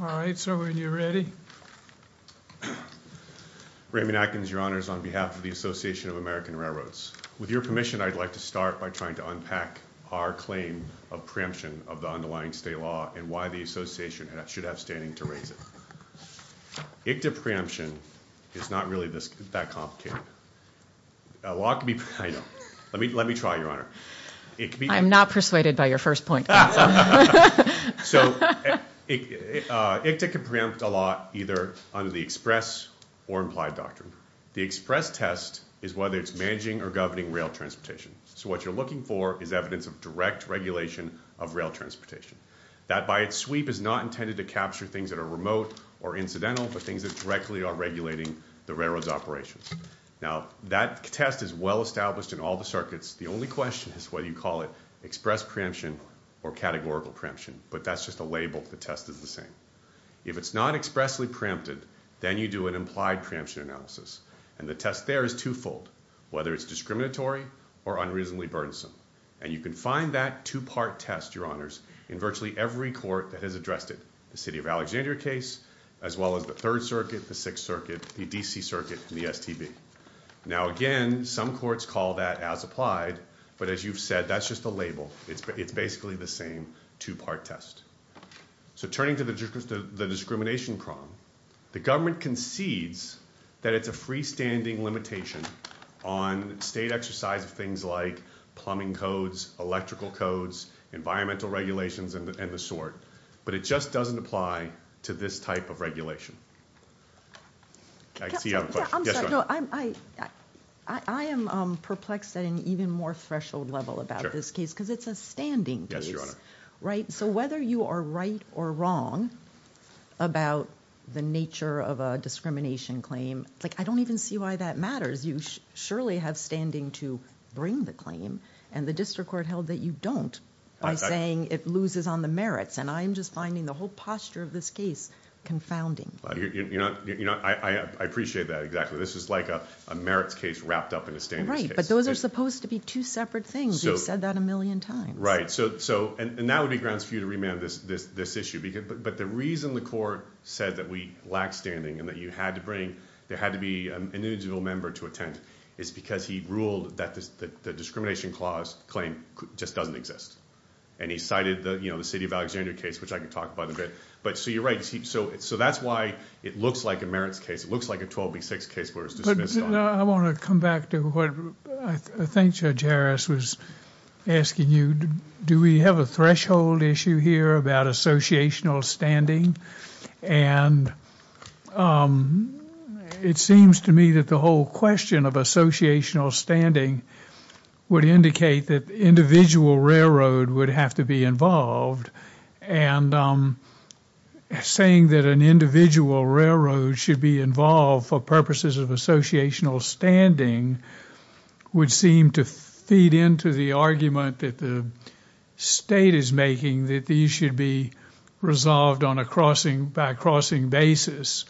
All right, sir, when you're ready. Raymond Atkins, Your Honors, on behalf of the Association of American Railroads. With your permission, I'd like to start by trying to unpack our claim of preemption of the underlying state law and why the Association should have standing to raise it. ICTA preemption is not really that complicated. A law can be... I know. Let me try, Your Honor. I'm not persuaded by your first point. So, ICTA can preempt a law either under the express or implied doctrine. The express test is whether it's managing or governing rail transportation. So what you're looking for is evidence of direct regulation of rail transportation. That, by its sweep, is not intended to capture things that are remote or incidental, but things that directly are regulating the railroad's operations. Now, that test is well established in all the circuits. The only question is whether you call it express preemption or categorical preemption. But that's just a label. The test is the same. If it's not expressly preempted, then you do an implied preemption analysis. And the test there is twofold, whether it's discriminatory or unreasonably burdensome. And you can find that two-part test, Your Honors, in virtually every court that has addressed it, the City of Alexandria case, as well as the Third Circuit, the Sixth Circuit, the D.C. Circuit, and the STB. Now, again, some courts call that as applied, but as you've said, that's just a label. It's basically the same two-part test. So turning to the discrimination prong, the government concedes that it's a freestanding limitation on state exercise of things like plumbing codes, electrical codes, environmental regulations, and the sort. But it just doesn't apply to this type of regulation. I see you have a question. Yes, Your Honor. I'm sorry. No, I am perplexed at an even more threshold level about this case because it's a standing case. Yes, Your Honor. Right? So whether you are right or wrong about the nature of a discrimination claim, like, I don't even see why that matters. You surely have standing to bring the claim. And the district court held that you don't by saying it loses on the merits. And I am just finding the whole posture of this case confounding. I appreciate that, exactly. This is like a merits case wrapped up in a standards case. Right, but those are supposed to be two separate things. You've said that a million times. Right. And that would be grounds for you to remand this issue. But the reason the court said that we lack standing and that you had to bring, there had to be an individual member to attend, is because he ruled that the discrimination claim just doesn't exist. And he cited the City of Alexandria case, which I can talk about in a bit. But so you're right. So that's why it looks like a merits case. It looks like a 12B6 case where it's dismissed. I want to come back to what I think Judge Harris was asking you. Do we have a threshold issue here about associational standing? And it seems to me that the whole question of associational standing would indicate that the individual railroad would have to be involved. And saying that an individual railroad should be involved for purposes of associational standing would seem to feed into the argument that the state is making that these should be resolved by a crossing basis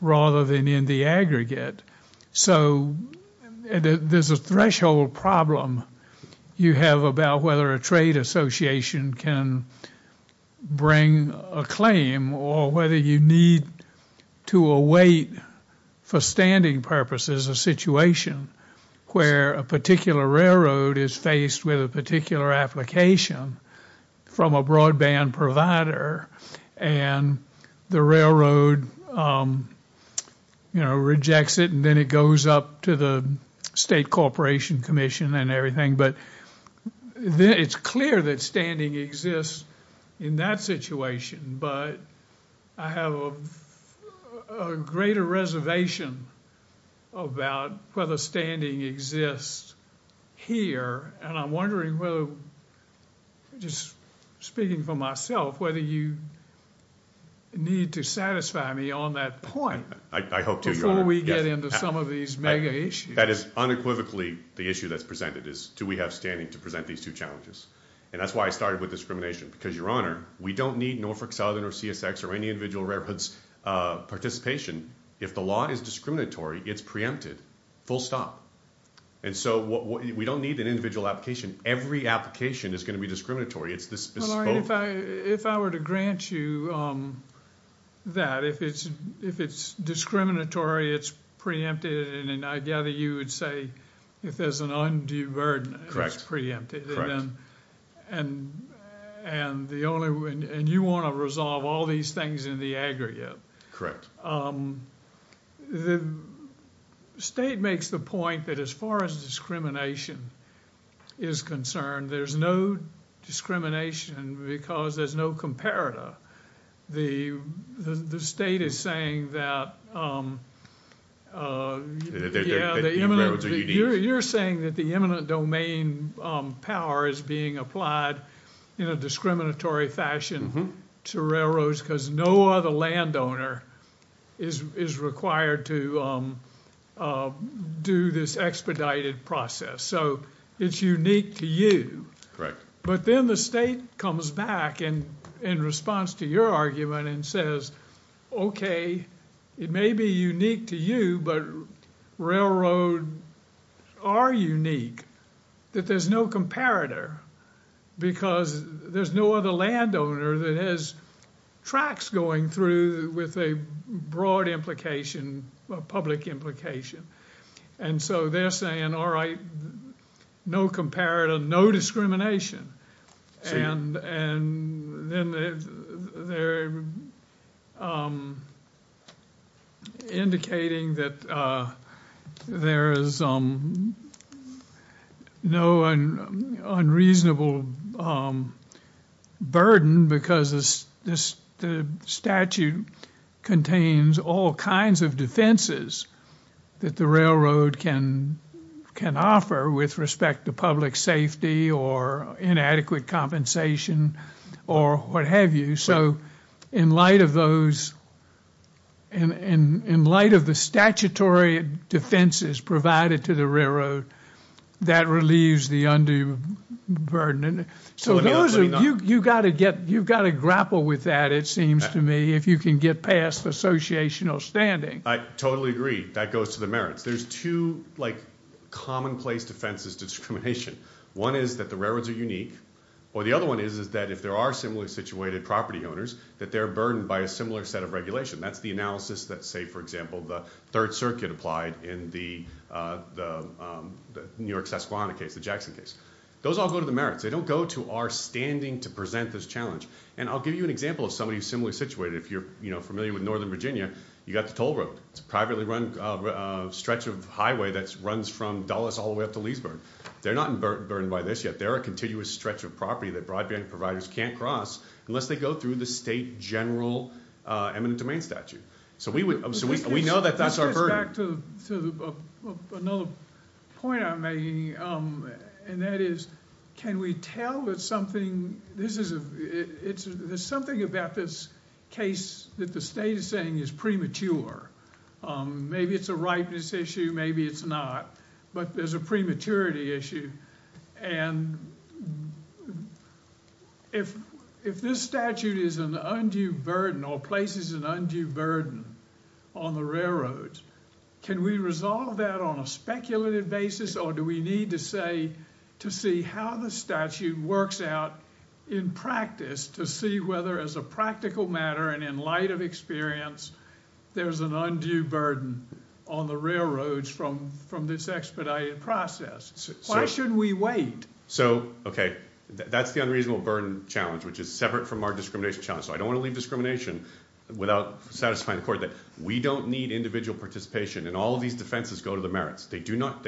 rather than in the aggregate. So there's a threshold problem you have about whether a trade association can bring a claim or whether you need to await for standing purposes a situation where a particular railroad is faced with a particular application from a broadband provider and the railroad rejects it and then it goes up to the state corporation commission and everything. But it's clear that standing exists in that situation. But I have a greater reservation about whether standing exists here. And I'm wondering whether, just speaking for myself, whether you need to satisfy me on that point. I hope to, Your Honor. Before we get into some of these mega issues. That is unequivocally the issue that's presented is do we have standing to present these two challenges. And that's why I started with discrimination. Because, Your Honor, we don't need Norfolk Southern or CSX or any individual railroads participation if the law is discriminatory, it's preempted, full stop. And so we don't need an individual application. Every application is going to be discriminatory. It's bespoke. If I were to grant you that, if it's discriminatory, it's preempted. And I gather you would say if there's an undue burden, it's preempted. And you want to resolve all these things in the aggregate. Correct. The state makes the point that as far as discrimination is concerned, there's no discrimination because there's no comparator. The state is saying that the eminent domain power is being applied in a discriminatory fashion to railroads because no other landowner is required to do this expedited process. So it's unique to you. But then the state comes back in response to your argument and says, okay, it may be unique to you, but railroad are unique, that there's no comparator because there's no other landowner that has tracks going through with a broad implication, a public implication. And so they're saying, all right, no comparator, no discrimination. And then they're indicating that there is no unreasonable burden because the statute contains all kinds of defenses that the railroad can offer with respect to public safety or inadequate compensation or what have you. So in light of the statutory defenses provided to the railroad, that relieves the undue burden. So you've got to grapple with that, it seems to me, if you can get past the associational standing. I totally agree. That goes to the merits. There's two commonplace defenses to discrimination. One is that the railroads are unique. Or the other one is that if there are similarly situated property owners, that they're burdened by a similar set of regulation. That's the analysis that, say, for example, the Third Circuit applied in the New York-Sasquatch case, the Jackson case. Those all go to the merits. They don't go to our standing to present this challenge. And I'll give you an example of somebody who's similarly situated. If you're familiar with Northern Virginia, you've got the toll road. It's a privately run stretch of highway that runs from Dulles all the way up to Leesburg. They're not burdened by this yet. They're a continuous stretch of property that broadband providers can't cross unless they go through the state general eminent domain statute. So we know that that's our burden. I want to go back to another point I'm making, and that is can we tell that something... There's something about this case that the state is saying is premature. Maybe it's a ripeness issue. Maybe it's not. But there's a prematurity issue. And if this statute is an undue burden or places an undue burden on the railroads, can we resolve that on a speculative basis? Or do we need to see how the statute works out in practice to see whether as a practical matter and in light of experience, there's an undue burden on the railroads from this expedited process? Why should we wait? So, okay, that's the unreasonable burden challenge, which is separate from our discrimination challenge. So I don't want to leave discrimination without satisfying the court that we don't need individual participation and all of these defenses go to the merits. They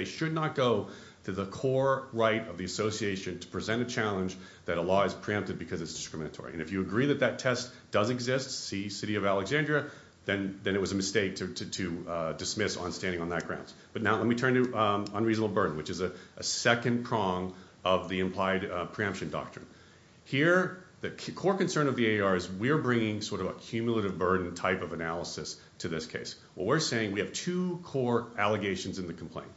should not go to the core right of the association to present a challenge that a law is preempted because it's discriminatory. And if you agree that that test does exist, see City of Alexandria, then it was a mistake to dismiss on standing on that grounds. But now let me turn to unreasonable burden, which is a second prong of the implied preemption doctrine. Here, the core concern of the AAR is we're bringing sort of a cumulative burden type of analysis to this case. What we're saying, we have two core allegations in the complaint.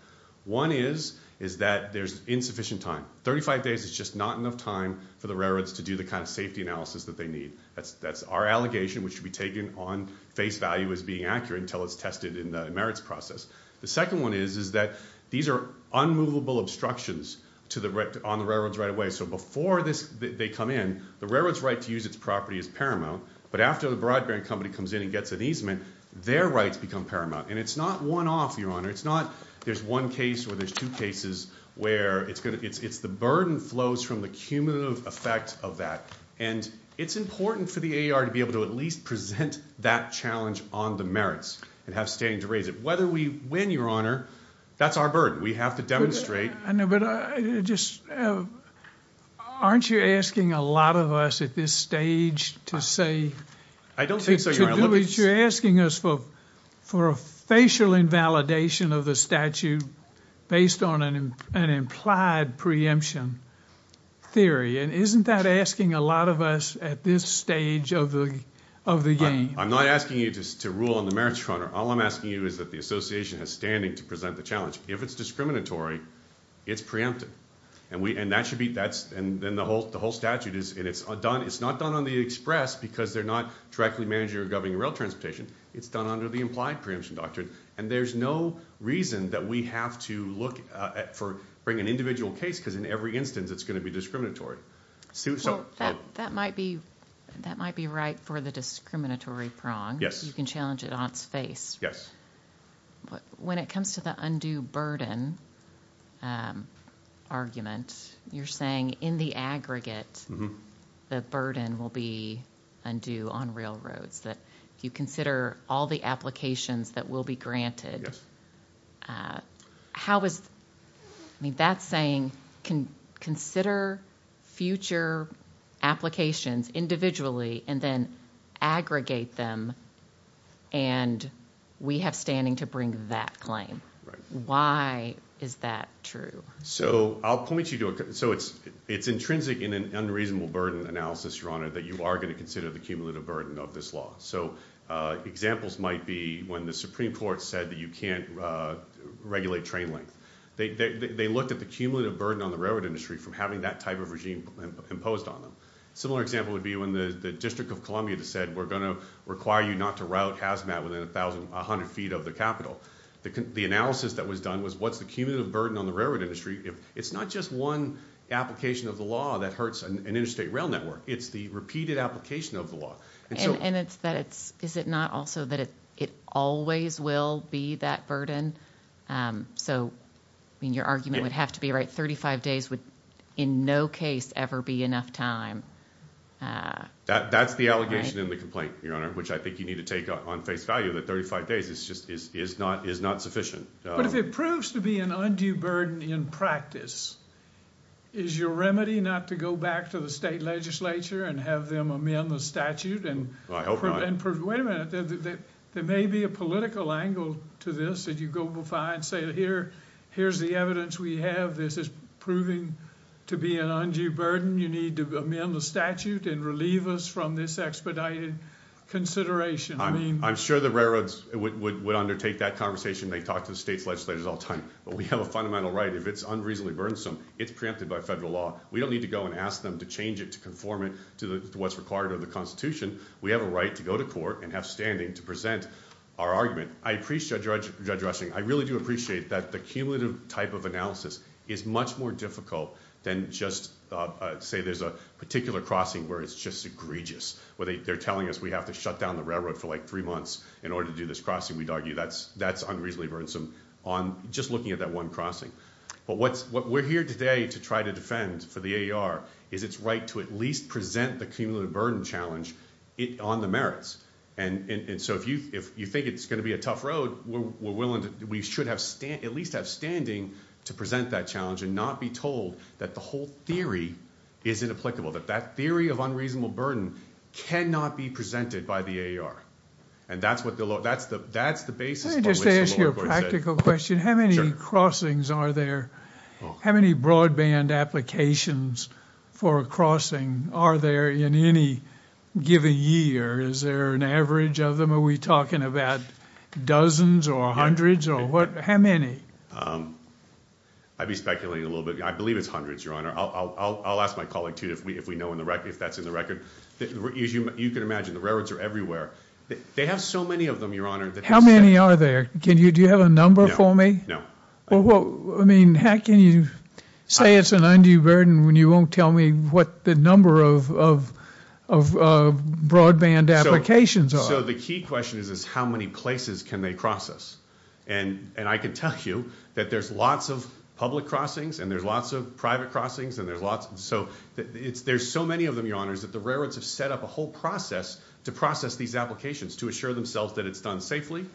One is that there's insufficient time. Thirty-five days is just not enough time for the railroads to do the kind of safety analysis that they need. That's our allegation, which should be taken on face value as being accurate until it's tested in the merits process. The second one is that these are unmovable obstructions on the railroads right away. So before they come in, the railroad's right to use its property is paramount. But after the broadband company comes in and gets an easement, their rights become paramount. And it's not one-off, Your Honor. It's not there's one case or there's two cases where it's the burden flows from the cumulative effect of that. And it's important for the AAR to be able to at least present that challenge on the merits and have standing to raise it. Whether we win, Your Honor, that's our burden. We have to demonstrate. I know, but just aren't you asking a lot of us at this stage to say. I don't think so, Your Honor. You're asking us for a facial invalidation of the statute based on an implied preemption theory. And isn't that asking a lot of us at this stage of the game? I'm not asking you to rule on the merits, Your Honor. All I'm asking you is that the association has standing to present the challenge. If it's discriminatory, it's preempted. And that should be. And then the whole statute is. And it's not done on the express because they're not directly managing or governing rail transportation. It's done under the implied preemption doctrine. And there's no reason that we have to bring an individual case because in every instance it's going to be discriminatory. That might be right for the discriminatory prong. Yes. You can challenge it on its face. Yes. When it comes to the undue burden argument, you're saying in the aggregate the burden will be undue on railroads, that if you consider all the applications that will be granted. Yes. I mean, that's saying consider future applications individually and then aggregate them and we have standing to bring that claim. Right. Why is that true? So I'll point you to it. So it's intrinsic in an unreasonable burden analysis, Your Honor, that you are going to consider the cumulative burden of this law. So examples might be when the Supreme Court said that you can't regulate train length. They looked at the cumulative burden on the railroad industry from having that type of regime imposed on them. A similar example would be when the District of Columbia said we're going to require you not to route HAZMAT within a hundred feet of the capital. The analysis that was done was what's the cumulative burden on the railroad industry. It's not just one application of the law that hurts an interstate rail network. It's the repeated application of the law. And it's that it's – is it not also that it always will be that burden? So, I mean, your argument would have to be right. Thirty-five days would in no case ever be enough time. That's the allegation in the complaint, Your Honor, which I think you need to take on face value that 35 days is just – is not sufficient. But if it proves to be an undue burden in practice, is your remedy not to go back to the state legislature and have them amend the statute and – Wait a minute. There may be a political angle to this that you go by and say here's the evidence we have. This is proving to be an undue burden. You need to amend the statute and relieve us from this expedited consideration. I'm sure the railroads would undertake that conversation. They talk to the state's legislators all the time. But we have a fundamental right. If it's unreasonably burdensome, it's preempted by federal law. We don't need to go and ask them to change it to conform it to what's required of the Constitution. We have a right to go to court and have standing to present our argument. I appreciate Judge Rushing. I really do appreciate that the cumulative type of analysis is much more difficult than just say there's a particular crossing where it's just egregious, where they're telling us we have to shut down the railroad for like three months in order to do this crossing. We'd argue that's unreasonably burdensome on just looking at that one crossing. But what we're here today to try to defend for the AER is its right to at least present the cumulative burden challenge on the merits. And so if you think it's going to be a tough road, we should at least have standing to present that challenge and not be told that the whole theory is inapplicable, that that theory of unreasonable burden cannot be presented by the AER. And that's what the law – that's the basis on which the law requires it. Let me just ask you a practical question. How many crossings are there? How many broadband applications for a crossing are there in any given year? Is there an average of them? Are we talking about dozens or hundreds or what? How many? I'd be speculating a little bit. I believe it's hundreds, Your Honor. I'll ask my colleague, too, if we know if that's in the record. As you can imagine, the railroads are everywhere. They have so many of them, Your Honor. How many are there? Do you have a number for me? No. I mean how can you say it's an undue burden when you won't tell me what the number of broadband applications are? So the key question is how many places can they cross us? And I can tell you that there's lots of public crossings and there's lots of private crossings and there's lots – so there's so many of them, Your Honors, that the railroads have set up a whole process to process these applications to assure themselves that it's done safely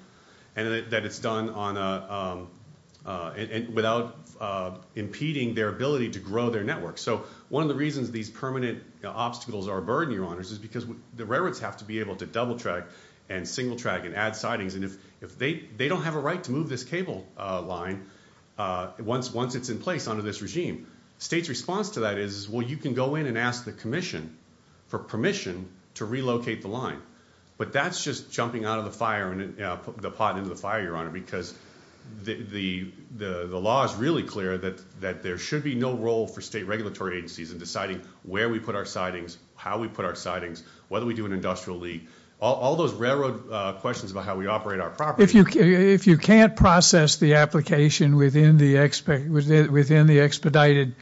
and that it's done on a – without impeding their ability to grow their network. So one of the reasons these permanent obstacles are a burden, Your Honors, is because the railroads have to be able to double track and single track and add sidings. And if they don't have a right to move this cable line once it's in place under this regime, the state's response to that is, well, you can go in and ask the commission for permission to relocate the line. But that's just jumping out of the fire – the pot into the fire, Your Honor, because the law is really clear that there should be no role for state regulatory agencies in deciding where we put our sidings, how we put our sidings, whether we do an industrial leak. All those railroad questions about how we operate our property. If you can't process the application within the expedited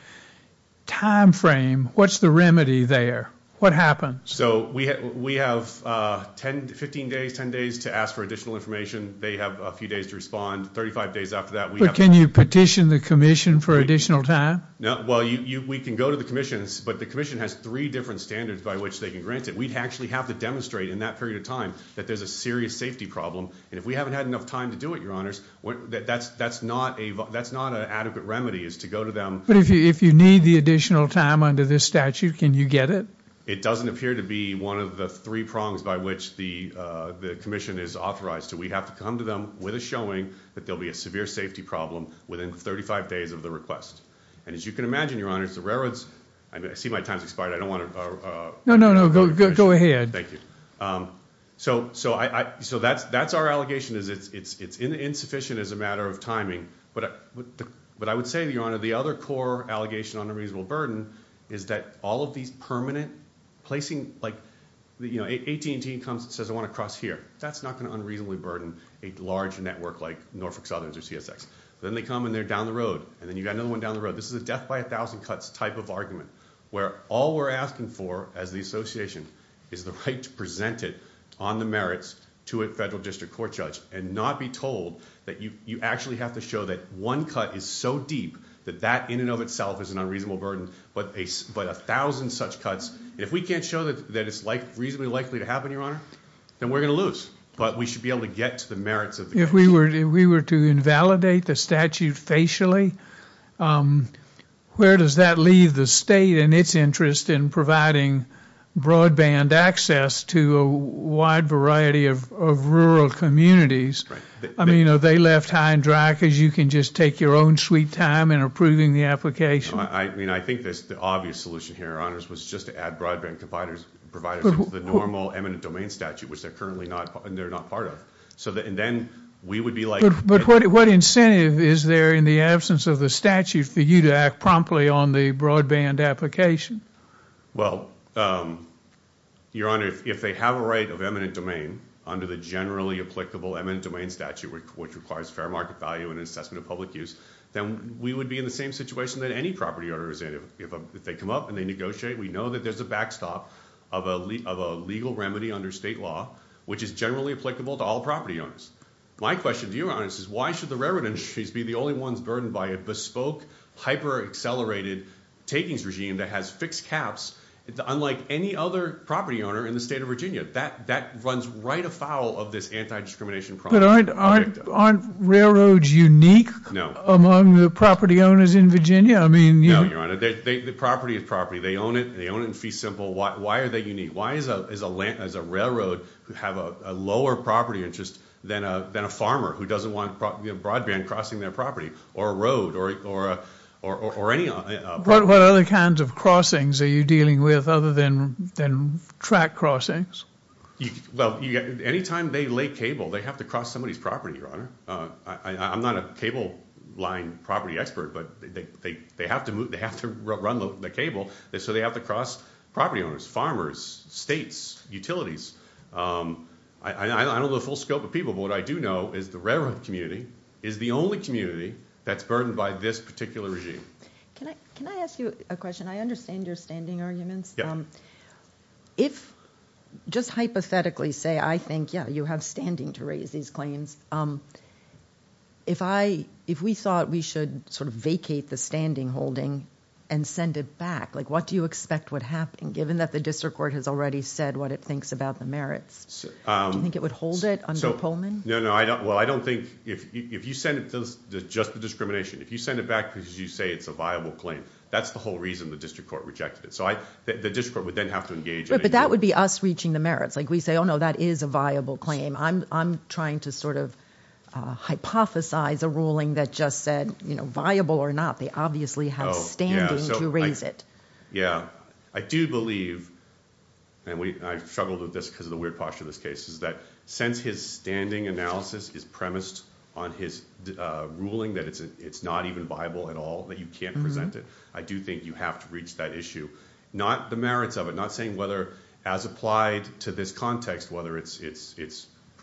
timeframe, what's the remedy there? What happens? So we have 10 – 15 days, 10 days to ask for additional information. They have a few days to respond. Thirty-five days after that, we have – But can you petition the commission for additional time? No. Well, we can go to the commissions, but the commission has three different standards by which they can grant it. We actually have to demonstrate in that period of time that there's a serious safety problem. And if we haven't had enough time to do it, Your Honors, that's not an adequate remedy is to go to them. But if you need the additional time under this statute, can you get it? It doesn't appear to be one of the three prongs by which the commission is authorized. So we have to come to them with a showing that there will be a severe safety problem within 35 days of the request. And as you can imagine, Your Honors, the railroads – I see my time has expired. I don't want to – No, no, no. Go ahead. Thank you. So that's our allegation is it's insufficient as a matter of timing. But I would say, Your Honor, the other core allegation on unreasonable burden is that all of these permanent placing – like AT&T comes and says, I want to cross here. That's not going to unreasonably burden a large network like Norfolk Southerns or CSX. Then they come and they're down the road. And then you've got another one down the road. This is a death by a thousand cuts type of argument where all we're asking for as the association is the right to present it on the merits to a federal district court judge and not be told that you actually have to show that one cut is so deep that that in and of itself is an unreasonable burden. But a thousand such cuts – if we can't show that it's reasonably likely to happen, Your Honor, then we're going to lose. But we should be able to get to the merits of the commission. If we were to invalidate the statute facially, where does that leave the state and its interest in providing broadband access to a wide variety of rural communities? I mean, are they left high and dry because you can just take your own sweet time in approving the application? I mean, I think the obvious solution here, Your Honors, was just to add broadband providers to the normal eminent domain statute, which they're currently not part of. But what incentive is there in the absence of the statute for you to act promptly on the broadband application? Well, Your Honor, if they have a right of eminent domain under the generally applicable eminent domain statute, which requires fair market value and assessment of public use, then we would be in the same situation that any property owner is in. If they come up and they negotiate, we know that there's a backstop of a legal remedy under state law, which is generally applicable to all property owners. My question to Your Honors is why should the railroad industries be the only ones burdened by a bespoke, hyper-accelerated takings regime that has fixed caps, unlike any other property owner in the state of Virginia? That runs right afoul of this anti-discrimination project. But aren't railroads unique among the property owners in Virginia? No, Your Honor. The property is property. They own it, and they own it in fee simple. Why are they unique? Why is a railroad who have a lower property interest than a farmer who doesn't want broadband crossing their property or a road or any other property? What other kinds of crossings are you dealing with other than track crossings? Well, any time they lay cable, they have to cross somebody's property, Your Honor. I'm not a cable line property expert, but they have to run the cable, so they have to cross property owners, farmers, states, utilities. I don't know the full scope of people, but what I do know is the railroad community is the only community that's burdened by this particular regime. Can I ask you a question? I understand your standing arguments. If just hypothetically say I think, yeah, you have standing to raise these claims, if we thought we should sort of vacate the standing holding and send it back, like what do you expect would happen given that the district court has already said what it thinks about the merits? Do you think it would hold it under Pullman? No, no. Well, I don't think if you send it to just the discrimination, if you send it back because you say it's a viable claim, that's the whole reason the district court rejected it. So the district court would then have to engage. But that would be us reaching the merits. Like we say, oh, no, that is a viable claim. I'm trying to sort of hypothesize a ruling that just said viable or not. They obviously have standing to raise it. Yeah. I do believe, and I've struggled with this because of the weird posture of this case, is that since his standing analysis is premised on his ruling that it's not even viable at all, that you can't present it, I do think you have to reach that issue, not the merits of it, not saying whether as applied to this context, whether it's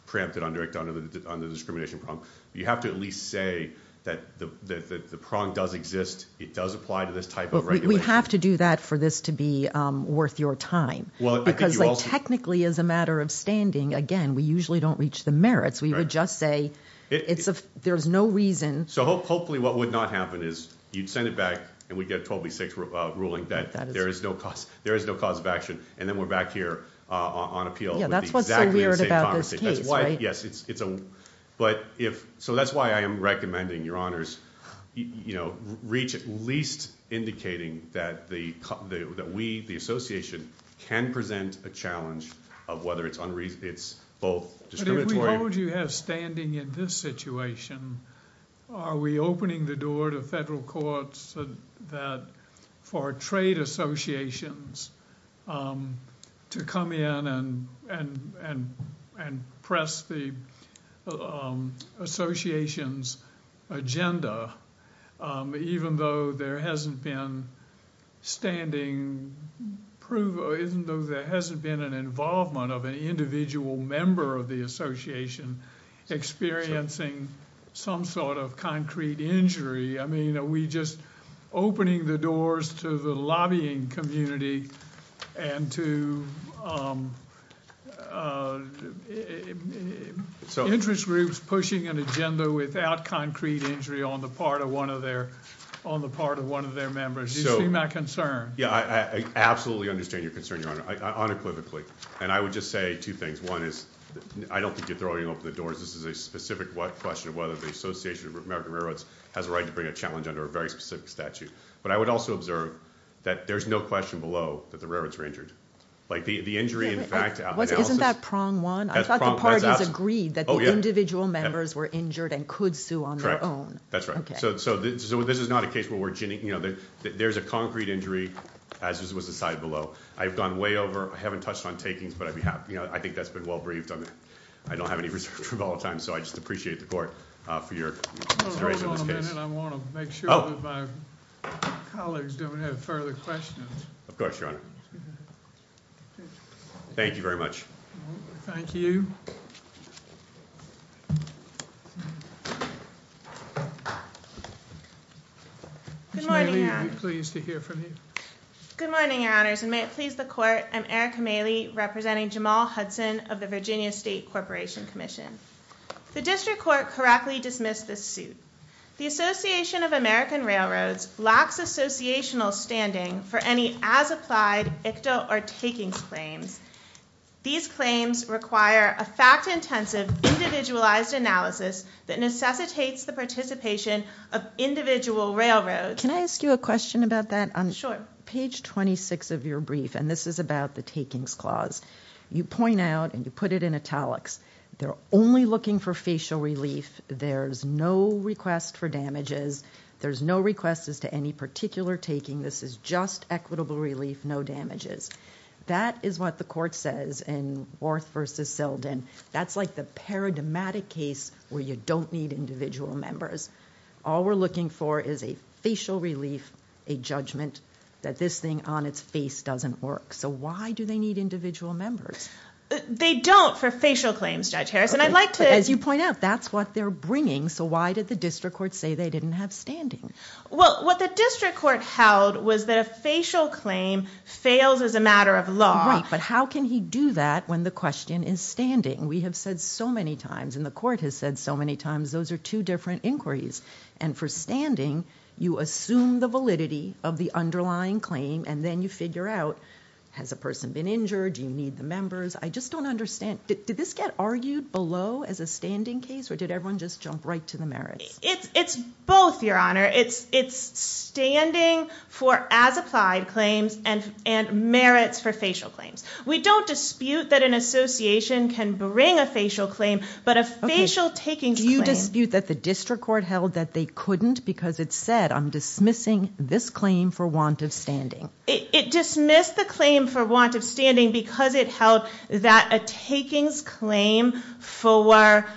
preempted under the discrimination prong. You have to at least say that the prong does exist. It does apply to this type of regulation. But we have to do that for this to be worth your time. Because, like, technically as a matter of standing, again, we usually don't reach the merits. We would just say there's no reason. So hopefully what would not happen is you'd send it back, and we'd get a 12 v. 6 ruling that there is no cause of action, and then we're back here on appeal with exactly the same conversation. Yeah, that's what's so weird about this case, right? Yes. So that's why I am recommending, Your Honors, reach at least indicating that we, the association, can present a challenge of whether it's both discriminatory. What would you have standing in this situation? Are we opening the door to federal courts for trade associations to come in and press the association's agenda, even though there hasn't been an involvement of an individual member of the association experiencing some sort of concrete injury? I mean, are we just opening the doors to the lobbying community and to interest groups pushing an agenda without concrete injury on the part of one of their members? Do you see my concern? Yeah, I absolutely understand your concern, Your Honor, unequivocally. And I would just say two things. One is I don't think you're throwing open the doors. This is a specific question of whether the Association of American Railroads has a right to bring a challenge under a very specific statute. But I would also observe that there's no question below that the railroads were injured. Isn't that prong one? I thought the parties agreed that the individual members were injured and could sue on their own. That's right. So this is not a case where there's a concrete injury, as was decided below. I've gone way over. I haven't touched on takings, but I think that's been well-briefed on that. I don't have any reserved room all the time, so I just appreciate the court for your consideration of this case. Hold on a minute. I want to make sure that my colleagues don't have further questions. Of course, Your Honor. Thank you very much. Thank you. Good morning, Your Honor. Ms. Mailey, are you pleased to hear from you? Good morning, Your Honors, and may it please the court. I'm Erica Mailey, representing Jamal Hudson of the Virginia State Corporation Commission. The district court correctly dismissed this suit. The Association of American Railroads lacks associational standing for any as-applied ICTA or takings claims. These claims require a fact-intensive, individualized analysis that necessitates the participation of individual railroads. Can I ask you a question about that? Sure. On page 26 of your brief, and this is about the takings clause, you point out, and you put it in italics, they're only looking for facial relief. There's no request for damages. There's no request as to any particular taking. This is just equitable relief, no damages. That is what the court says in Worth v. Sildon. That's like the paradigmatic case where you don't need individual members. All we're looking for is a facial relief, a judgment that this thing on its face doesn't work. So why do they need individual members? They don't for facial claims, Judge Harris, and I'd like to- As you point out, that's what they're bringing, so why did the district court say they didn't have standing? Well, what the district court held was that a facial claim fails as a matter of law. Right, but how can he do that when the question is standing? We have said so many times, and the court has said so many times, those are two different inquiries, and for standing, you assume the validity of the underlying claim, and then you figure out, has a person been injured, do you need the members? I just don't understand. Did this get argued below as a standing case, or did everyone just jump right to the merits? It's both, Your Honor. It's standing for as-applied claims and merits for facial claims. We don't dispute that an association can bring a facial claim, but a facial takings claim- Do you dispute that the district court held that they couldn't because it said, I'm dismissing this claim for want of standing? It dismissed the claim for want of standing because it held that a takings claim for lack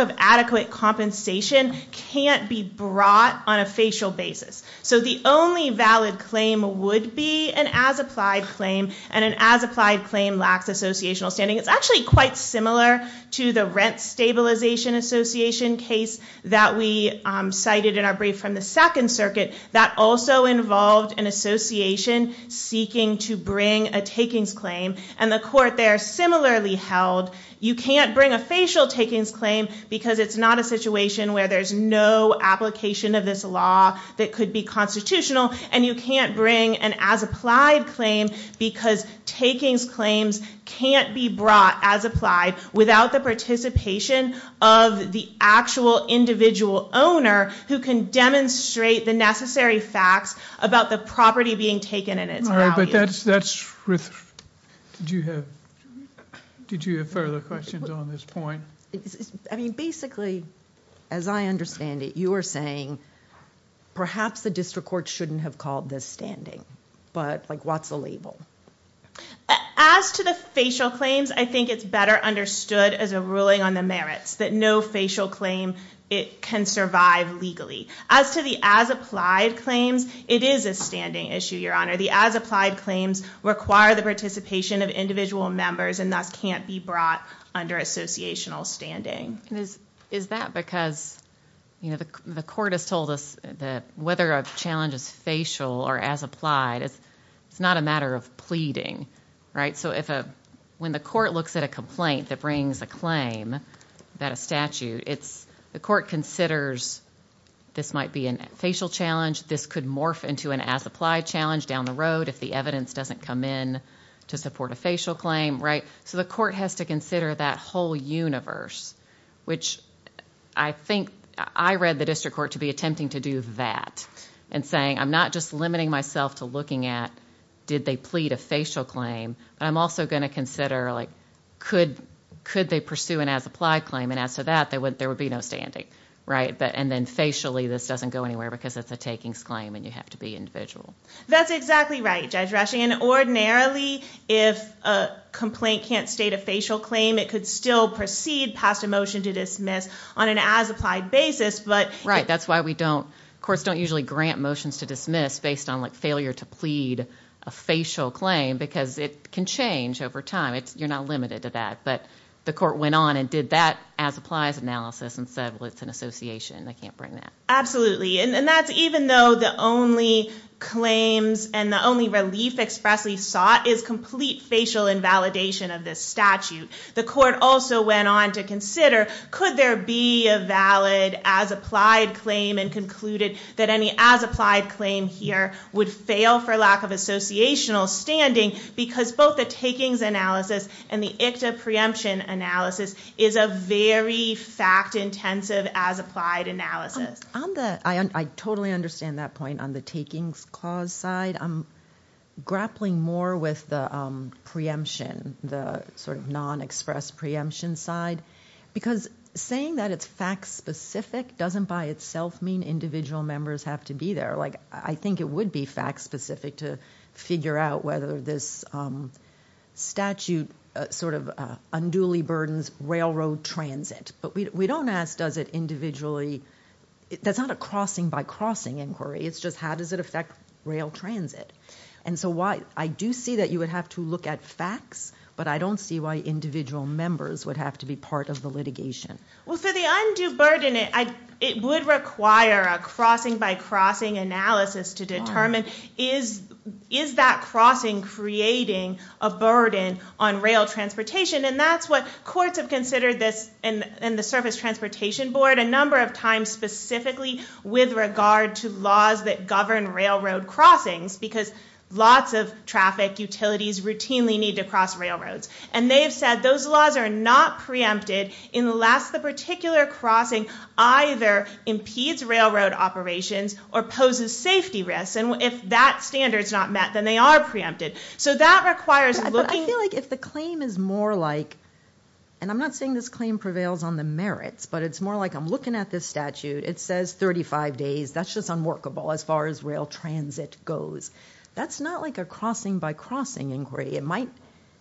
of adequate compensation can't be brought on a facial basis. So the only valid claim would be an as-applied claim, and an as-applied claim lacks associational standing. It's actually quite similar to the rent stabilization association case that we cited in our brief from the Second Circuit that also involved an association seeking to bring a takings claim, and the court there similarly held, you can't bring a facial takings claim because it's not a situation where there's no application of this law that could be constitutional, and you can't bring an as-applied claim because takings claims can't be brought as-applied without the participation of the actual individual owner who can demonstrate the necessary facts about the property being taken and its value. All right, but that's- did you have further questions on this point? I mean, basically, as I understand it, you are saying perhaps the district court shouldn't have called this standing, but, like, what's the label? As to the facial claims, I think it's better understood as a ruling on the merits, that no facial claim can survive legally. As to the as-applied claims, it is a standing issue, Your Honor. The as-applied claims require the participation of individual members and thus can't be brought under associational standing. Is that because, you know, the court has told us that whether a challenge is facial or as-applied, it's not a matter of pleading, right? So if a- when the court looks at a complaint that brings a claim, that a statute, it's- the court considers this might be a facial challenge, this could morph into an as-applied challenge down the road if the evidence doesn't come in to support a facial claim, right? So the court has to consider that whole universe, which I think- I read the district court to be attempting to do that and saying I'm not just limiting myself to looking at did they plead a facial claim, but I'm also going to consider, like, could they pursue an as-applied claim? And as to that, there would be no standing, right? And then facially, this doesn't go anywhere because it's a takings claim and you have to be individual. That's exactly right, Judge Rushing. And ordinarily, if a complaint can't state a facial claim, it could still proceed past a motion to dismiss on an as-applied basis, but- Right. That's why we don't- courts don't usually grant motions to dismiss based on, like, failure to plead a facial claim because it can change over time. You're not limited to that. But the court went on and did that as-applies analysis and said, well, it's an association, they can't bring that. Absolutely. And that's even though the only claims and the only relief expressly sought is complete facial invalidation of this statute. The court also went on to consider could there be a valid as-applied claim and concluded that any as-applied claim here would fail for lack of associational standing because both the takings analysis and the ICTA preemption analysis is a very fact-intensive as-applied analysis. I totally understand that point on the takings clause side. I'm grappling more with the preemption, the sort of non-expressed preemption side because saying that it's fact-specific doesn't by itself mean individual members have to be there. Like, I think it would be fact-specific to figure out whether this statute sort of unduly burdens railroad transit. But we don't ask does it individually. That's not a crossing-by-crossing inquiry. It's just how does it affect rail transit. And so I do see that you would have to look at facts, but I don't see why individual members would have to be part of the litigation. Well, for the undue burden, it would require a crossing-by-crossing analysis to determine is that crossing creating a burden on rail transportation. And that's what courts have considered this in the Surface Transportation Board a number of times specifically with regard to laws that govern railroad crossings because lots of traffic utilities routinely need to cross railroads. And they have said those laws are not preempted unless the particular crossing either impedes railroad operations or poses safety risks. And if that standard is not met, then they are preempted. So that requires looking – But I feel like if the claim is more like – and I'm not saying this claim prevails on the merits, but it's more like I'm looking at this statute. It says 35 days. That's just unworkable as far as rail transit goes. That's not like a crossing-by-crossing inquiry.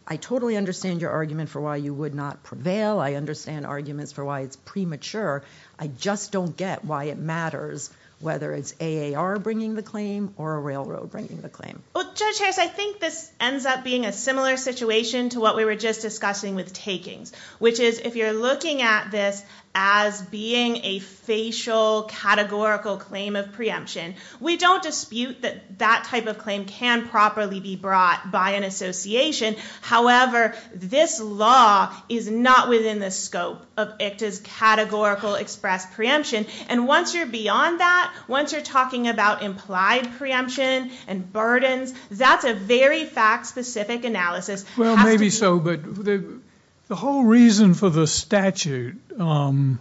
I totally understand your argument for why you would not prevail. I understand arguments for why it's premature. I just don't get why it matters whether it's AAR bringing the claim or a railroad bringing the claim. Well, Judge Harris, I think this ends up being a similar situation to what we were just discussing with takings, which is if you're looking at this as being a facial, categorical claim of preemption, we don't dispute that that type of claim can properly be brought by an association. However, this law is not within the scope of ICTA's categorical express preemption. And once you're beyond that, once you're talking about implied preemption and burdens, that's a very fact-specific analysis. Well, maybe so, but the whole reason for the statute and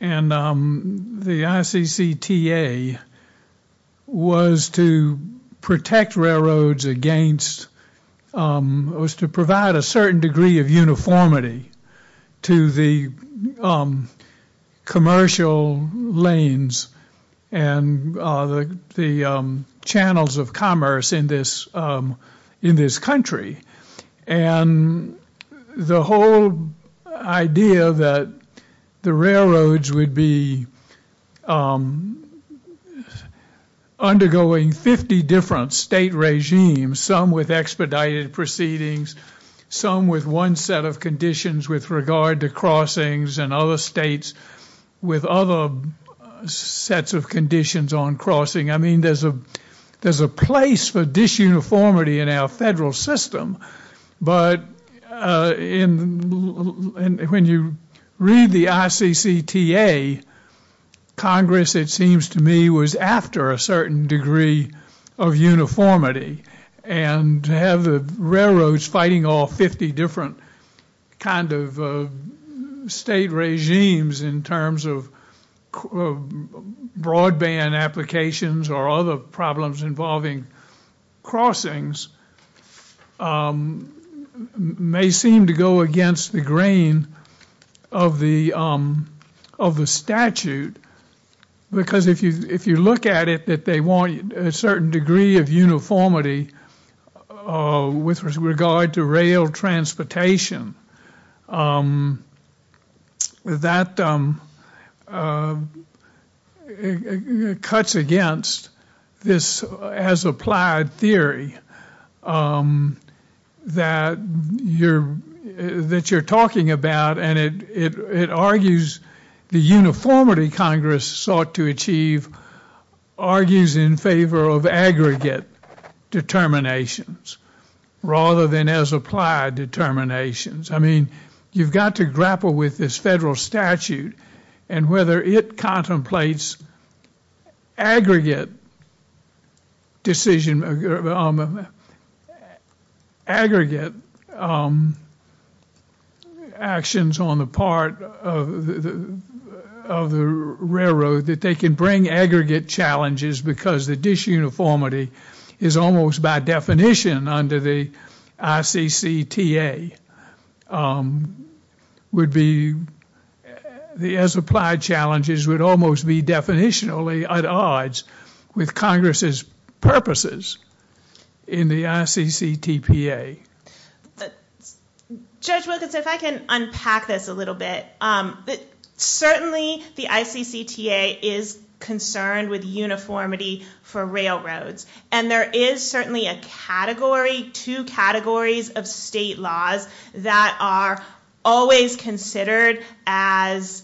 the ICTA was to protect railroads against or was to provide a certain degree of uniformity to the commercial lanes and the channels of commerce in this country. And the whole idea that the railroads would be undergoing 50 different state regimes, some with expedited proceedings, some with one set of conditions with regard to crossings and other states with other sets of conditions on crossing. I mean, there's a place for disuniformity in our federal system. But when you read the ICTA, Congress, it seems to me, was after a certain degree of uniformity. And to have the railroads fighting off 50 different kind of state regimes in terms of broadband applications or other problems involving crossings may seem to go against the grain of the statute. Because if you look at it, that they want a certain degree of uniformity with regard to rail transportation, that cuts against this as-applied theory that you're talking about. And it argues the uniformity Congress sought to achieve argues in favor of aggregate determinations rather than as-applied determinations. I mean, you've got to grapple with this federal statute and whether it contemplates aggregate decisions, aggregate actions on the part of the railroad that they can bring aggregate challenges because the disuniformity is almost by definition under the ICCTA would be, the as-applied challenges would almost be definitionally at odds with Congress's purposes in the ICCTPA. Judge Wilkins, if I can unpack this a little bit. Certainly, the ICCTA is concerned with uniformity for railroads. And there is certainly a category, two categories of state laws that are always considered as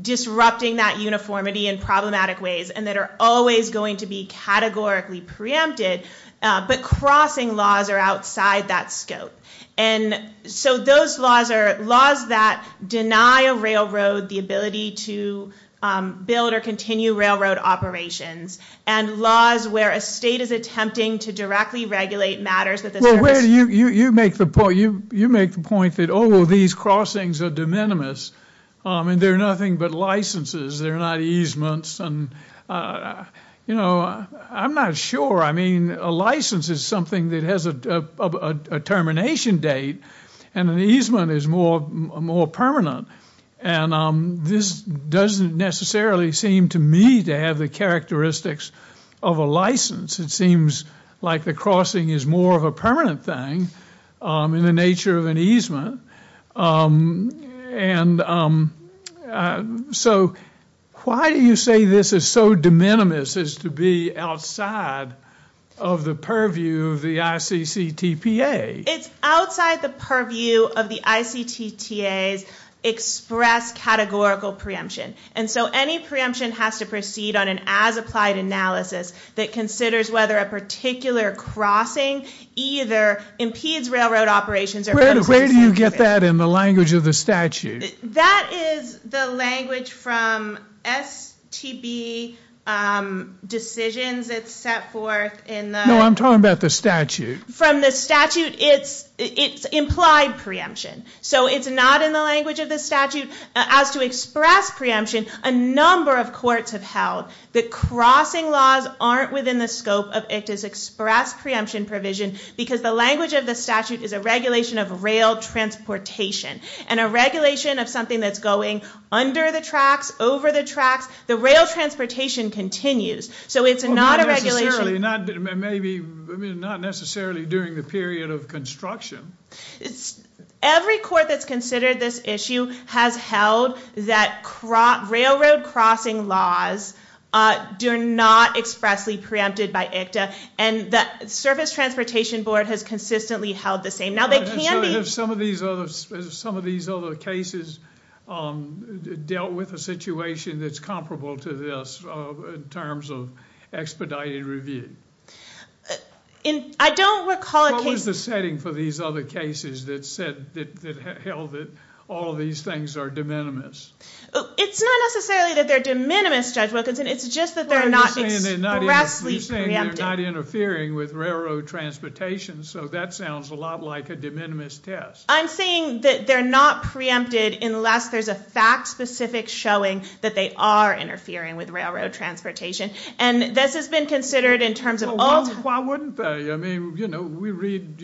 disrupting that uniformity in problematic ways and that are always going to be categorically preempted. But crossing laws are outside that scope. And so those laws are laws that deny a railroad the ability to build or continue railroad operations and laws where a state is attempting to directly regulate matters that the service- Well, you make the point that, oh, well, these crossings are de minimis and they're nothing but licenses. They're not easements. You know, I'm not sure. I mean, a license is something that has a termination date and an easement is more permanent. And this doesn't necessarily seem to me to have the characteristics of a license. It seems like the crossing is more of a permanent thing in the nature of an easement. And so why do you say this is so de minimis as to be outside of the purview of the ICCTPA? It's outside the purview of the ICCTA's express categorical preemption. And so any preemption has to proceed on an as-applied analysis that considers whether a particular crossing either impedes railroad operations or- Where do you get that in the language of the statute? That is the language from STB decisions that's set forth in the- No, I'm talking about the statute. From the statute, it's implied preemption. So it's not in the language of the statute. As to express preemption, a number of courts have held that crossing laws aren't within the scope of ICCTA's express preemption provision because the language of the statute is a regulation of rail transportation. And a regulation of something that's going under the tracks, over the tracks, the rail transportation continues. So it's not a regulation- Not necessarily during the period of construction. Every court that's considered this issue has held that railroad crossing laws do not expressly preempted by ICCTA. And the Service Transportation Board has consistently held the same. Now they can be- Some of these other cases dealt with a situation that's comparable to this in terms of expedited review. I don't recall a case- I'm referring for these other cases that held that all of these things are de minimis. It's not necessarily that they're de minimis, Judge Wilkinson. It's just that they're not expressly preempted. You're saying they're not interfering with railroad transportation. So that sounds a lot like a de minimis test. I'm saying that they're not preempted unless there's a fact-specific showing that they are interfering with railroad transportation. And this has been considered in terms of all- Why wouldn't they? I mean, you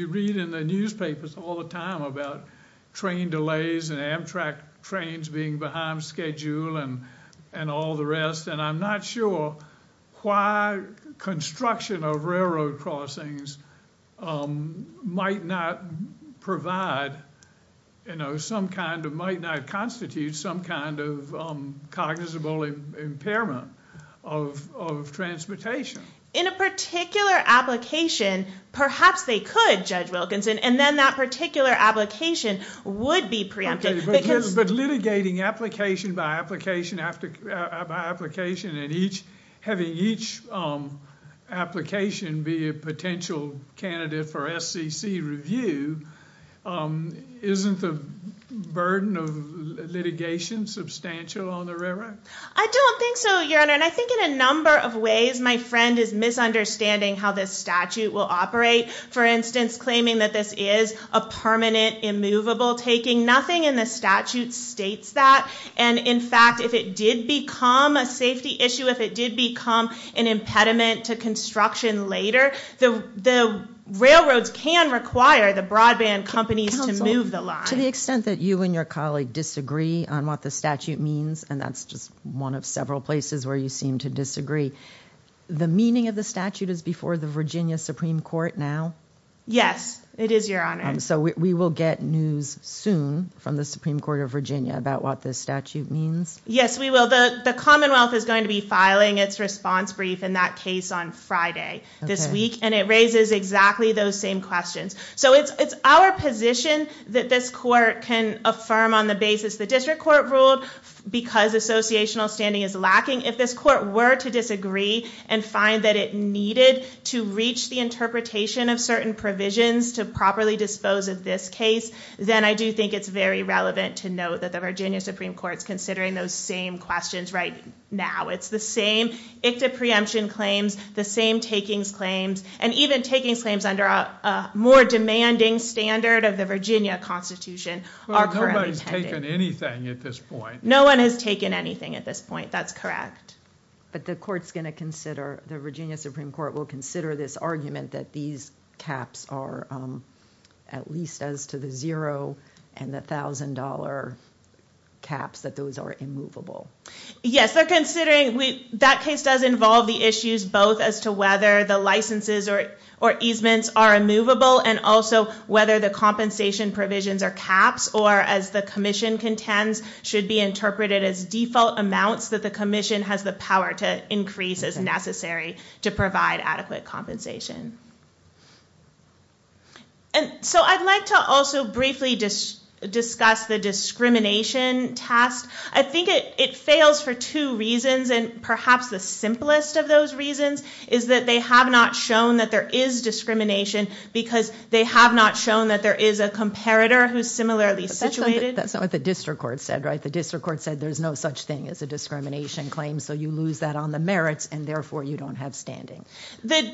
read in the newspapers all the time about train delays and Amtrak trains being behind schedule and all the rest. And I'm not sure why construction of railroad crossings might not provide some kind of- might not constitute some kind of cognizable impairment of transportation. In a particular application, perhaps they could, Judge Wilkinson, and then that particular application would be preempted. But litigating application by application after application and each- having each application be a potential candidate for SCC review, isn't the burden of litigation substantial on the railroad? I don't think so, Your Honor. And I think in a number of ways my friend is misunderstanding how this statute will operate. For instance, claiming that this is a permanent immovable taking. Nothing in the statute states that. And in fact, if it did become a safety issue, if it did become an impediment to construction later, the railroads can require the broadband companies to move the line. To the extent that you and your colleague disagree on what the statute means, and that's just one of several places where you seem to disagree, the meaning of the statute is before the Virginia Supreme Court now? Yes, it is, Your Honor. So we will get news soon from the Supreme Court of Virginia about what this statute means? Yes, we will. The Commonwealth is going to be filing its response brief in that case on Friday this week, and it raises exactly those same questions. So it's our position that this court can affirm on the basis the district court ruled because associational standing is lacking. If this court were to disagree and find that it needed to reach the interpretation of certain provisions to properly dispose of this case, then I do think it's very relevant to note that the Virginia Supreme Court is considering those same questions right now. It's the same ICTA preemption claims, the same takings claims, and even takings claims under a more demanding standard of the Virginia Constitution are currently tended. Well, nobody's taken anything at this point. No one has taken anything at this point, that's correct. But the court's going to consider, the Virginia Supreme Court will consider this argument that these caps are at least as to the zero and the $1,000 caps, that those are immovable. Yes, they're considering, that case does involve the issues both as to whether the licenses or easements are immovable, and also whether the compensation provisions or caps, or as the commission contends, should be interpreted as default amounts that the commission has the power to increase as necessary to provide adequate compensation. So I'd like to also briefly discuss the discrimination task. I think it fails for two reasons, and perhaps the simplest of those reasons is that they have not shown that there is discrimination, because they have not shown that there is a comparator who's similarly situated. That's not what the district court said, right? The district court said there's no such thing as a discrimination claim, so you lose that on the merits, and therefore you don't have standing. The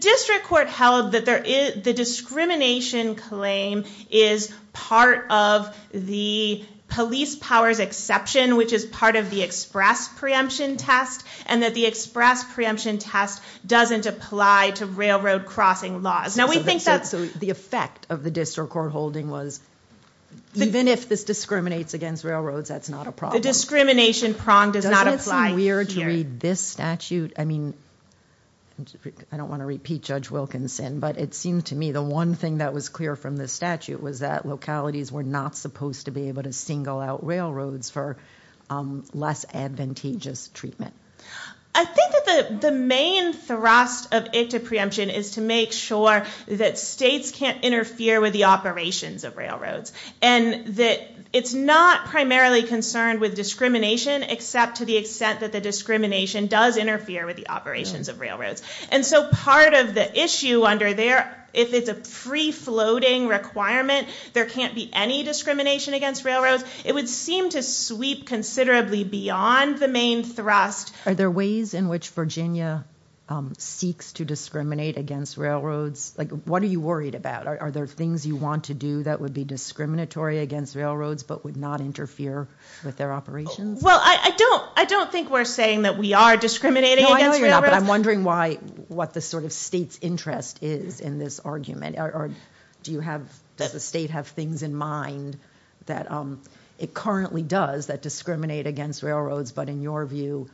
district court held that the discrimination claim is part of the police powers exception, which is part of the express preemption test, and that the express preemption test doesn't apply to railroad crossing laws. So the effect of the district court holding was, even if this discriminates against railroads, that's not a problem. The discrimination prong does not apply here. Is it fair to read this statute? I mean, I don't want to repeat Judge Wilkinson, but it seems to me the one thing that was clear from this statute was that localities were not supposed to be able to single out railroads for less advantageous treatment. I think that the main thrust of ICTA preemption is to make sure that states can't interfere with the operations of railroads, and that it's not primarily concerned with discrimination, except to the extent that the discrimination does interfere with the operations of railroads. And so part of the issue under there, if it's a free-floating requirement, there can't be any discrimination against railroads. It would seem to sweep considerably beyond the main thrust. Are there ways in which Virginia seeks to discriminate against railroads? Like, what are you worried about? Are there things you want to do that would be discriminatory against railroads but would not interfere with their operations? Well, I don't think we're saying that we are discriminating against railroads. No, I know you're not, but I'm wondering what the sort of state's interest is in this argument, or does the state have things in mind that it currently does that discriminate against railroads, but in your view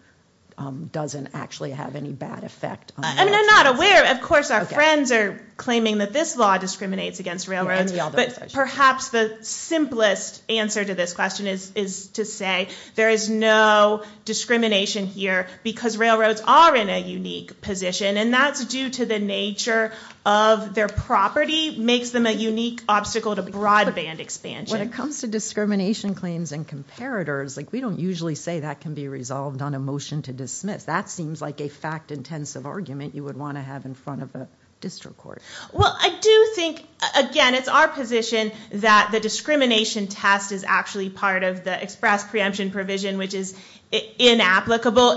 doesn't actually have any bad effect on railroads? I mean, I'm not aware. Of course, our friends are claiming that this law discriminates against railroads, but perhaps the simplest answer to this question is to say there is no discrimination here because railroads are in a unique position, and that's due to the nature of their property makes them a unique obstacle to broadband expansion. When it comes to discrimination claims and comparators, like, we don't usually say that can be resolved on a motion to dismiss. That seems like a fact-intensive argument you would want to have in front of a district court. Well, I do think, again, it's our position that the discrimination test is actually part of the express preemption provision, which is inapplicable,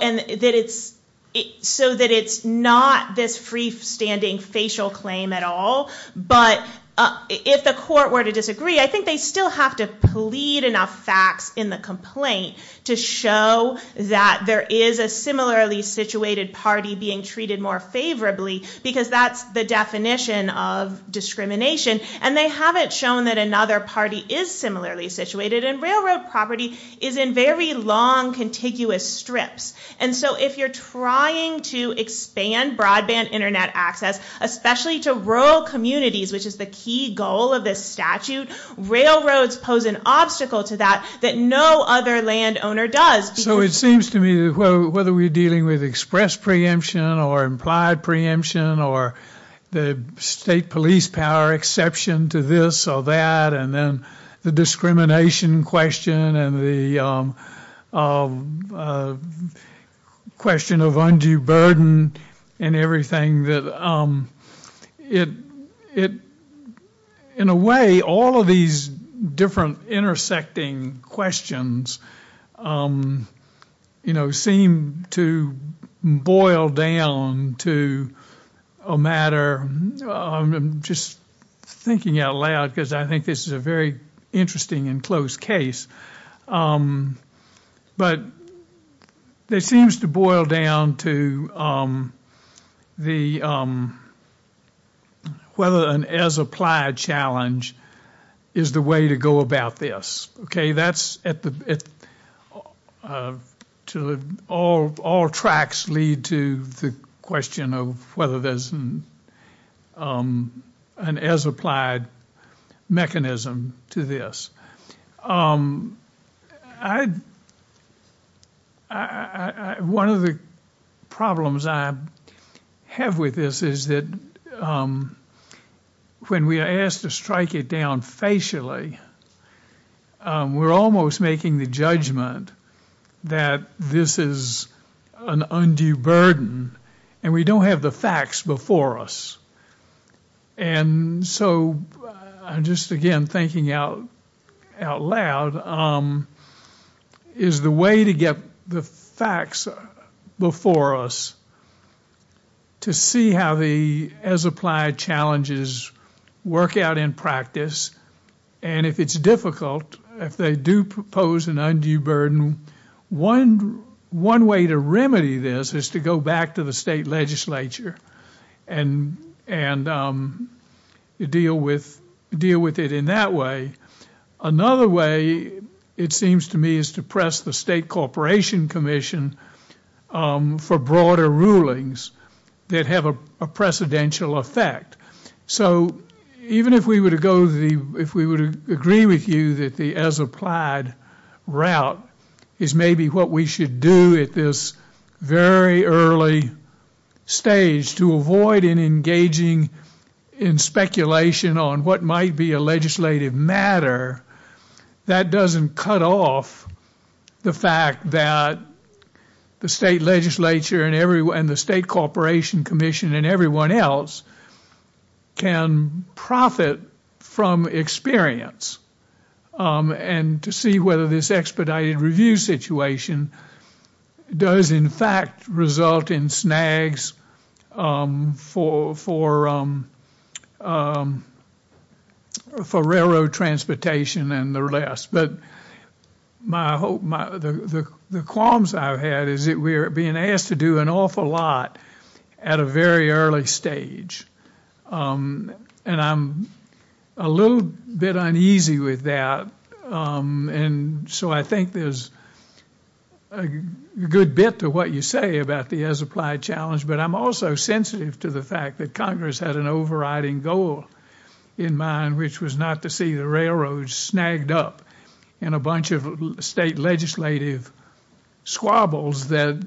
so that it's not this freestanding facial claim at all. But if the court were to disagree, I think they still have to plead enough facts in the complaint to show that there is a similarly situated party being treated more favorably, because that's the definition of discrimination, and they haven't shown that another party is similarly situated, and railroad property is in very long, contiguous strips. And so if you're trying to expand broadband Internet access, especially to rural communities, which is the key goal of this statute, railroads pose an obstacle to that that no other landowner does. So it seems to me that whether we're dealing with express preemption or implied preemption or the state police power exception to this or that, and then the discrimination question and the question of undue burden and everything, that in a way all of these different intersecting questions seem to boil down to a matter, I'm just thinking out loud because I think this is a very interesting and close case, but it seems to boil down to whether an as-applied challenge is the way to go about this. Okay, all tracks lead to the question of whether there's an as-applied mechanism to this. One of the problems I have with this is that when we are asked to strike it down facially, we're almost making the judgment that this is an undue burden, and we don't have the facts before us. And so I'm just again thinking out loud, is the way to get the facts before us to see how the as-applied challenges work out in practice, and if it's difficult, if they do pose an undue burden, one way to remedy this is to go back to the state legislature and deal with it in that way. Another way, it seems to me, is to press the state corporation commission for broader rulings that have a precedential effect. So even if we would agree with you that the as-applied route is maybe what we should do at this very early stage to avoid engaging in speculation on what might be a legislative matter, that doesn't cut off the fact that the state legislature and the state corporation commission and everyone else can profit from experience and to see whether this expedited review situation does in fact result in snags for railroad transportation and the rest. But the qualms I've had is that we're being asked to do an awful lot at a very early stage, and I'm a little bit uneasy with that. And so I think there's a good bit to what you say about the as-applied challenge, but I'm also sensitive to the fact that Congress had an overriding goal in mind, which was not to see the railroads snagged up in a bunch of state legislative squabbles that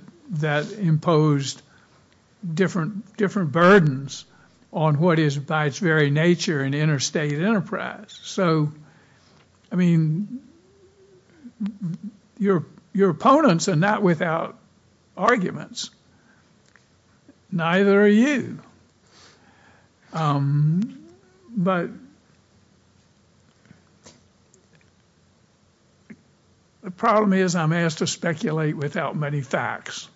imposed different burdens on what is by its very nature an interstate enterprise. So, I mean, your opponents are not without arguments. Neither are you. But the problem is I'm asked to speculate without many facts.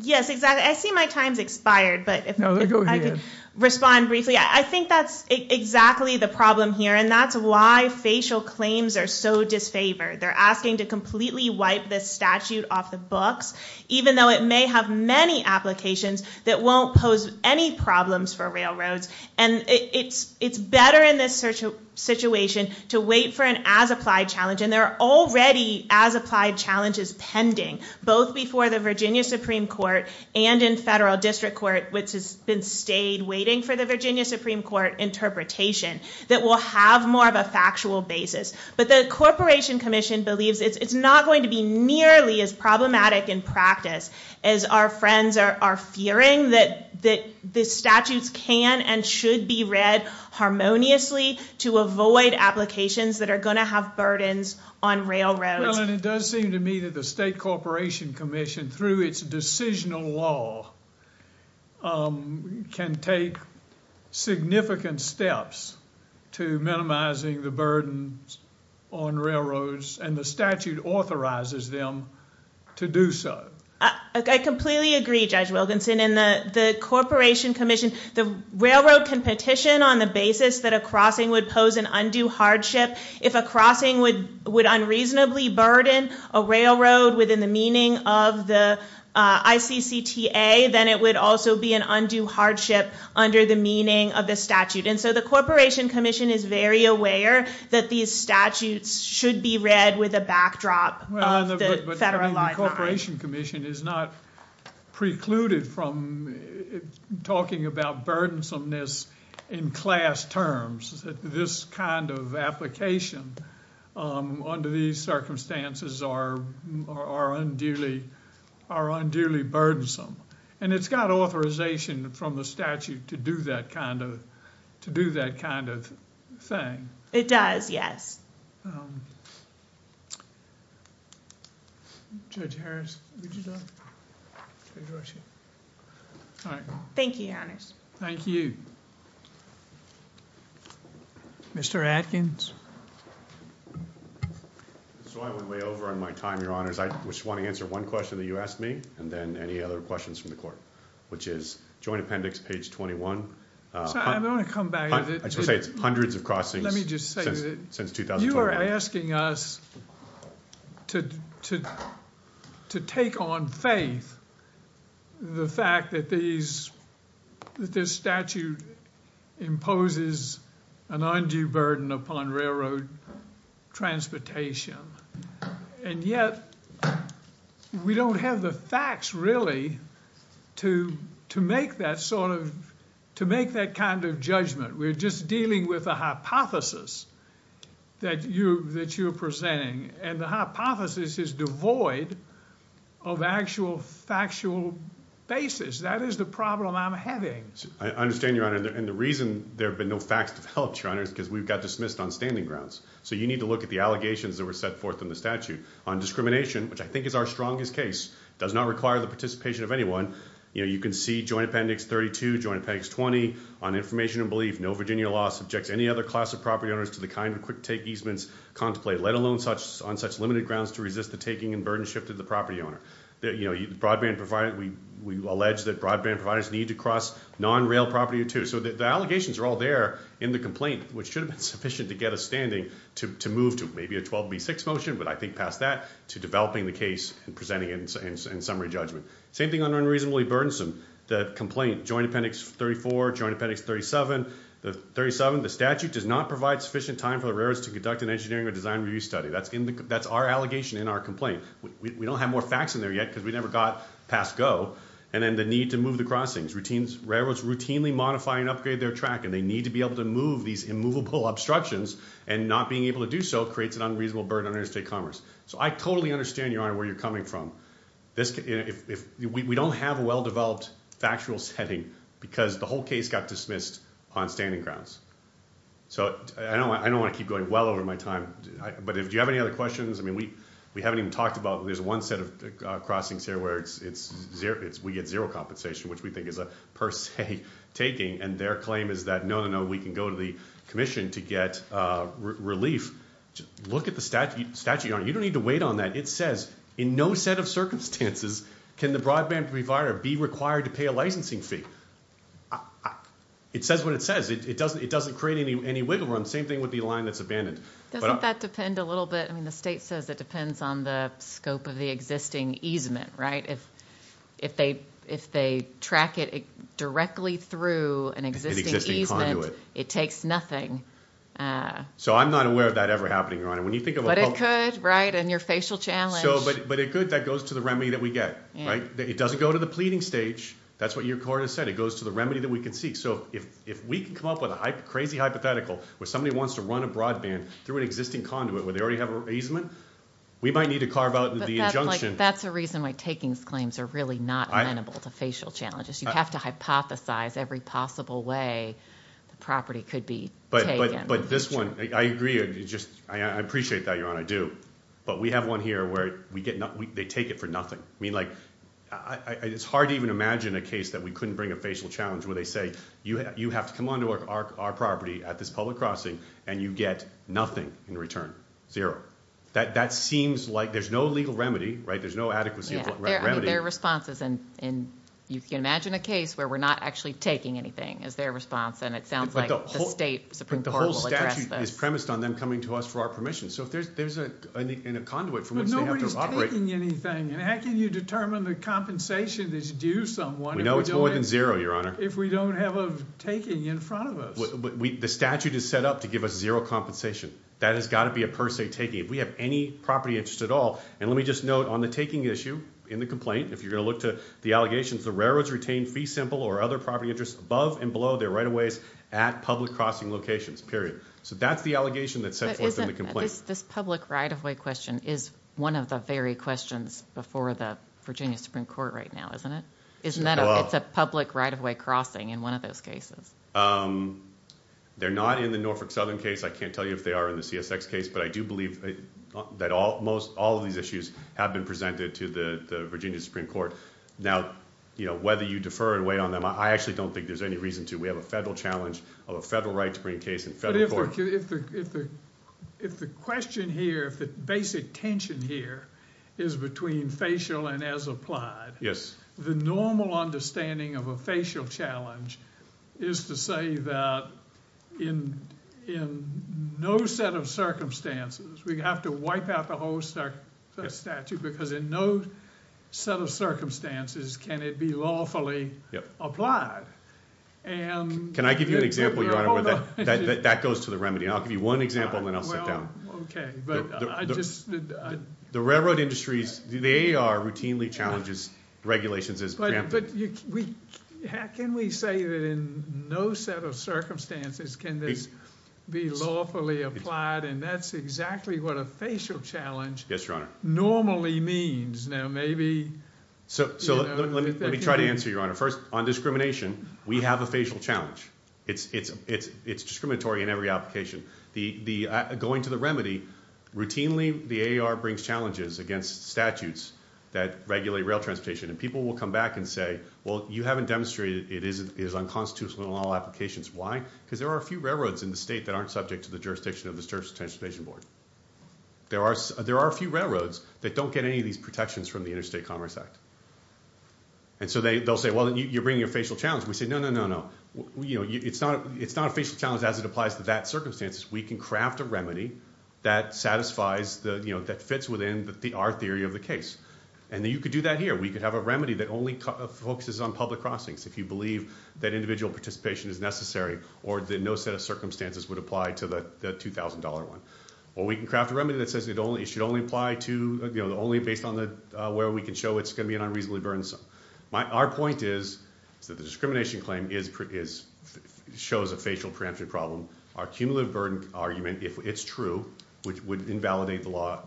Yes, exactly. I see my time's expired, but if I could respond briefly. I think that's exactly the problem here, and that's why facial claims are so disfavored. They're asking to completely wipe this statute off the books, even though it may have many applications that won't pose any problems for railroads. And it's better in this situation to wait for an as-applied challenge, and there are already as-applied challenges pending, both before the Virginia Supreme Court and in federal district court, which has been stayed waiting for the Virginia Supreme Court interpretation, that will have more of a factual basis. But the Corporation Commission believes it's not going to be nearly as problematic in practice as our friends are fearing that the statutes can and should be read harmoniously to avoid applications that are going to have burdens on railroads. Well, and it does seem to me that the State Corporation Commission, through its decisional law, can take significant steps to minimizing the burdens on railroads, and the statute authorizes them to do so. I completely agree, Judge Wilkinson, and the Corporation Commission, the railroad can petition on the basis that a crossing would pose an undue hardship if a crossing would unreasonably burden a railroad within the meaning of the ICCTA, then it would also be an undue hardship under the meaning of the statute. And so the Corporation Commission is very aware that these statutes should be read with a backdrop of the federal guidelines. But the Corporation Commission is not precluded from talking about burdensomeness in class terms. This kind of application under these circumstances are unduly burdensome. And it's got authorization from the statute to do that kind of thing. It does, yes. Judge Harris, would you like to address me? Thank you, Your Honors. Thank you. Thank you. Mr. Adkins? So I went way over on my time, Your Honors. I just want to answer one question that you asked me, and then any other questions from the Court, which is Joint Appendix, page 21. I want to come back to it. I just want to say it's hundreds of crossings since 2012. You're asking us to take on faith the fact that this statute imposes an undue burden upon railroad transportation. And yet we don't have the facts, really, to make that sort of – to make that kind of judgment. We're just dealing with a hypothesis that you're presenting. And the hypothesis is devoid of actual factual basis. That is the problem I'm having. I understand, Your Honor. And the reason there have been no facts developed, Your Honor, is because we've got dismissed on standing grounds. So you need to look at the allegations that were set forth in the statute on discrimination, which I think is our strongest case. It does not require the participation of anyone. You can see Joint Appendix 32, Joint Appendix 20 on information and belief. No Virginia law subjects any other class of property owners to the kind of quick take easements contemplated, let alone on such limited grounds to resist the taking and burden shift of the property owner. We allege that broadband providers need to cross non-rail property too. So the allegations are all there in the complaint, which should have been sufficient to get us standing to move to maybe a 12B6 motion, but I think past that, to developing the case and presenting it in summary judgment. Same thing on unreasonably burdensome. The complaint, Joint Appendix 34, Joint Appendix 37, the statute does not provide sufficient time for the railroads to conduct an engineering or design review study. That's our allegation in our complaint. We don't have more facts in there yet because we never got past go. And then the need to move the crossings. Railroads routinely modify and upgrade their track, and they need to be able to move these immovable obstructions, and not being able to do so creates an unreasonable burden on interstate commerce. So I totally understand, Your Honor, where you're coming from. We don't have a well-developed factual setting because the whole case got dismissed on standing grounds. So I don't want to keep going well over my time, but do you have any other questions? I mean, we haven't even talked about it. There's one set of crossings here where we get zero compensation, which we think is a per se taking, and their claim is that, no, no, no, we can go to the commission to get relief. Look at the statute, Your Honor. You don't need to wait on that. It says, in no set of circumstances can the broadband provider be required to pay a licensing fee. It says what it says. It doesn't create any wiggle room. Same thing with the line that's abandoned. Doesn't that depend a little bit? I mean, the state says it depends on the scope of the existing easement, right? If they track it directly through an existing easement, it takes nothing. So I'm not aware of that ever happening, Your Honor. But it could, right, in your facial challenge. But it could. That goes to the remedy that we get, right? It doesn't go to the pleading stage. That's what your court has said. It goes to the remedy that we can seek. So if we can come up with a crazy hypothetical where somebody wants to run a broadband through an existing conduit where they already have an easement, we might need to carve out the injunction. But that's a reason why takings claims are really not amenable to facial challenges. You have to hypothesize every possible way the property could be taken. But this one, I agree. I appreciate that, Your Honor, I do. But we have one here where they take it for nothing. I mean, like, it's hard to even imagine a case that we couldn't bring a facial challenge where they say, you have to come on to our property at this public crossing, and you get nothing in return, zero. That seems like there's no legal remedy, right? There's no adequacy of remedy. There are responses. And you can imagine a case where we're not actually taking anything is their response, and it sounds like the state Supreme Court will address this. And it's premised on them coming to us for our permission. So there's a conduit from which they have to operate. But nobody's taking anything. And how can you determine the compensation that's due someone if we don't have a taking in front of us? The statute is set up to give us zero compensation. That has got to be a per se taking. If we have any property interest at all, and let me just note on the taking issue in the complaint, if you're going to look to the allegations, the railroads retain fee simple or other property interest above and below their right of ways at public crossing locations, period. So that's the allegation that's set forth in the complaint. This public right-of-way question is one of the very questions before the Virginia Supreme Court right now, isn't it? It's a public right-of-way crossing in one of those cases. They're not in the Norfolk Southern case. I can't tell you if they are in the CSX case. But I do believe that all of these issues have been presented to the Virginia Supreme Court. Now, whether you defer or wait on them, I actually don't think there's any reason to. We have a federal challenge of a federal right to bring a case in federal court. But if the question here, if the basic tension here is between facial and as applied, the normal understanding of a facial challenge is to say that in no set of circumstances, we have to wipe out the whole statute because in no set of circumstances can it be lawfully applied. Can I give you an example, Your Honor, where that goes to the remedy? I'll give you one example, and then I'll sit down. Okay. The railroad industries, they are routinely challenged as regulations as rampant. But can we say that in no set of circumstances can this be lawfully applied, and that's exactly what a facial challenge normally means? Now, maybe. So let me try to answer, Your Honor. First, on discrimination, we have a facial challenge. It's discriminatory in every application. Going to the remedy, routinely the AAR brings challenges against statutes that regulate rail transportation, and people will come back and say, well, you haven't demonstrated it is unconstitutional in all applications. Why? Because there are a few railroads in the state that aren't subject to the jurisdiction of the Surface Transportation Board. There are a few railroads that don't get any of these protections from the Interstate Commerce Act. And so they'll say, well, you're bringing a facial challenge. We say, no, no, no, no. You know, it's not a facial challenge as it applies to that circumstance. We can craft a remedy that satisfies the, you know, that fits within our theory of the case. And you could do that here. We could have a remedy that only focuses on public crossings if you believe that individual participation is necessary or that no set of circumstances would apply to the $2,000 one. Or we can craft a remedy that says it should only apply to, you know, only based on where we can show it's going to be an unreasonably burdensome. Our point is that the discrimination claim shows a facial preemption problem. Our cumulative burden argument, if it's true, would invalidate the law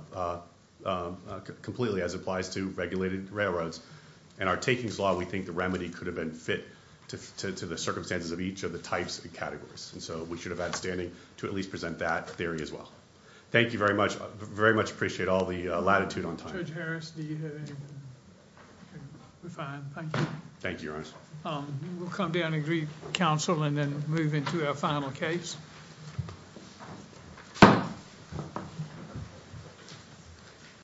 completely as it applies to regulated railroads. And our takings law, we think the remedy could have been fit to the circumstances of each of the types and categories. And so we should have had standing to at least present that theory as well. Thank you very much. I very much appreciate all the latitude on time. Judge Harris, do you have anything to refine? Thank you, Your Honor. We'll come down and greet counsel and then move into our final case.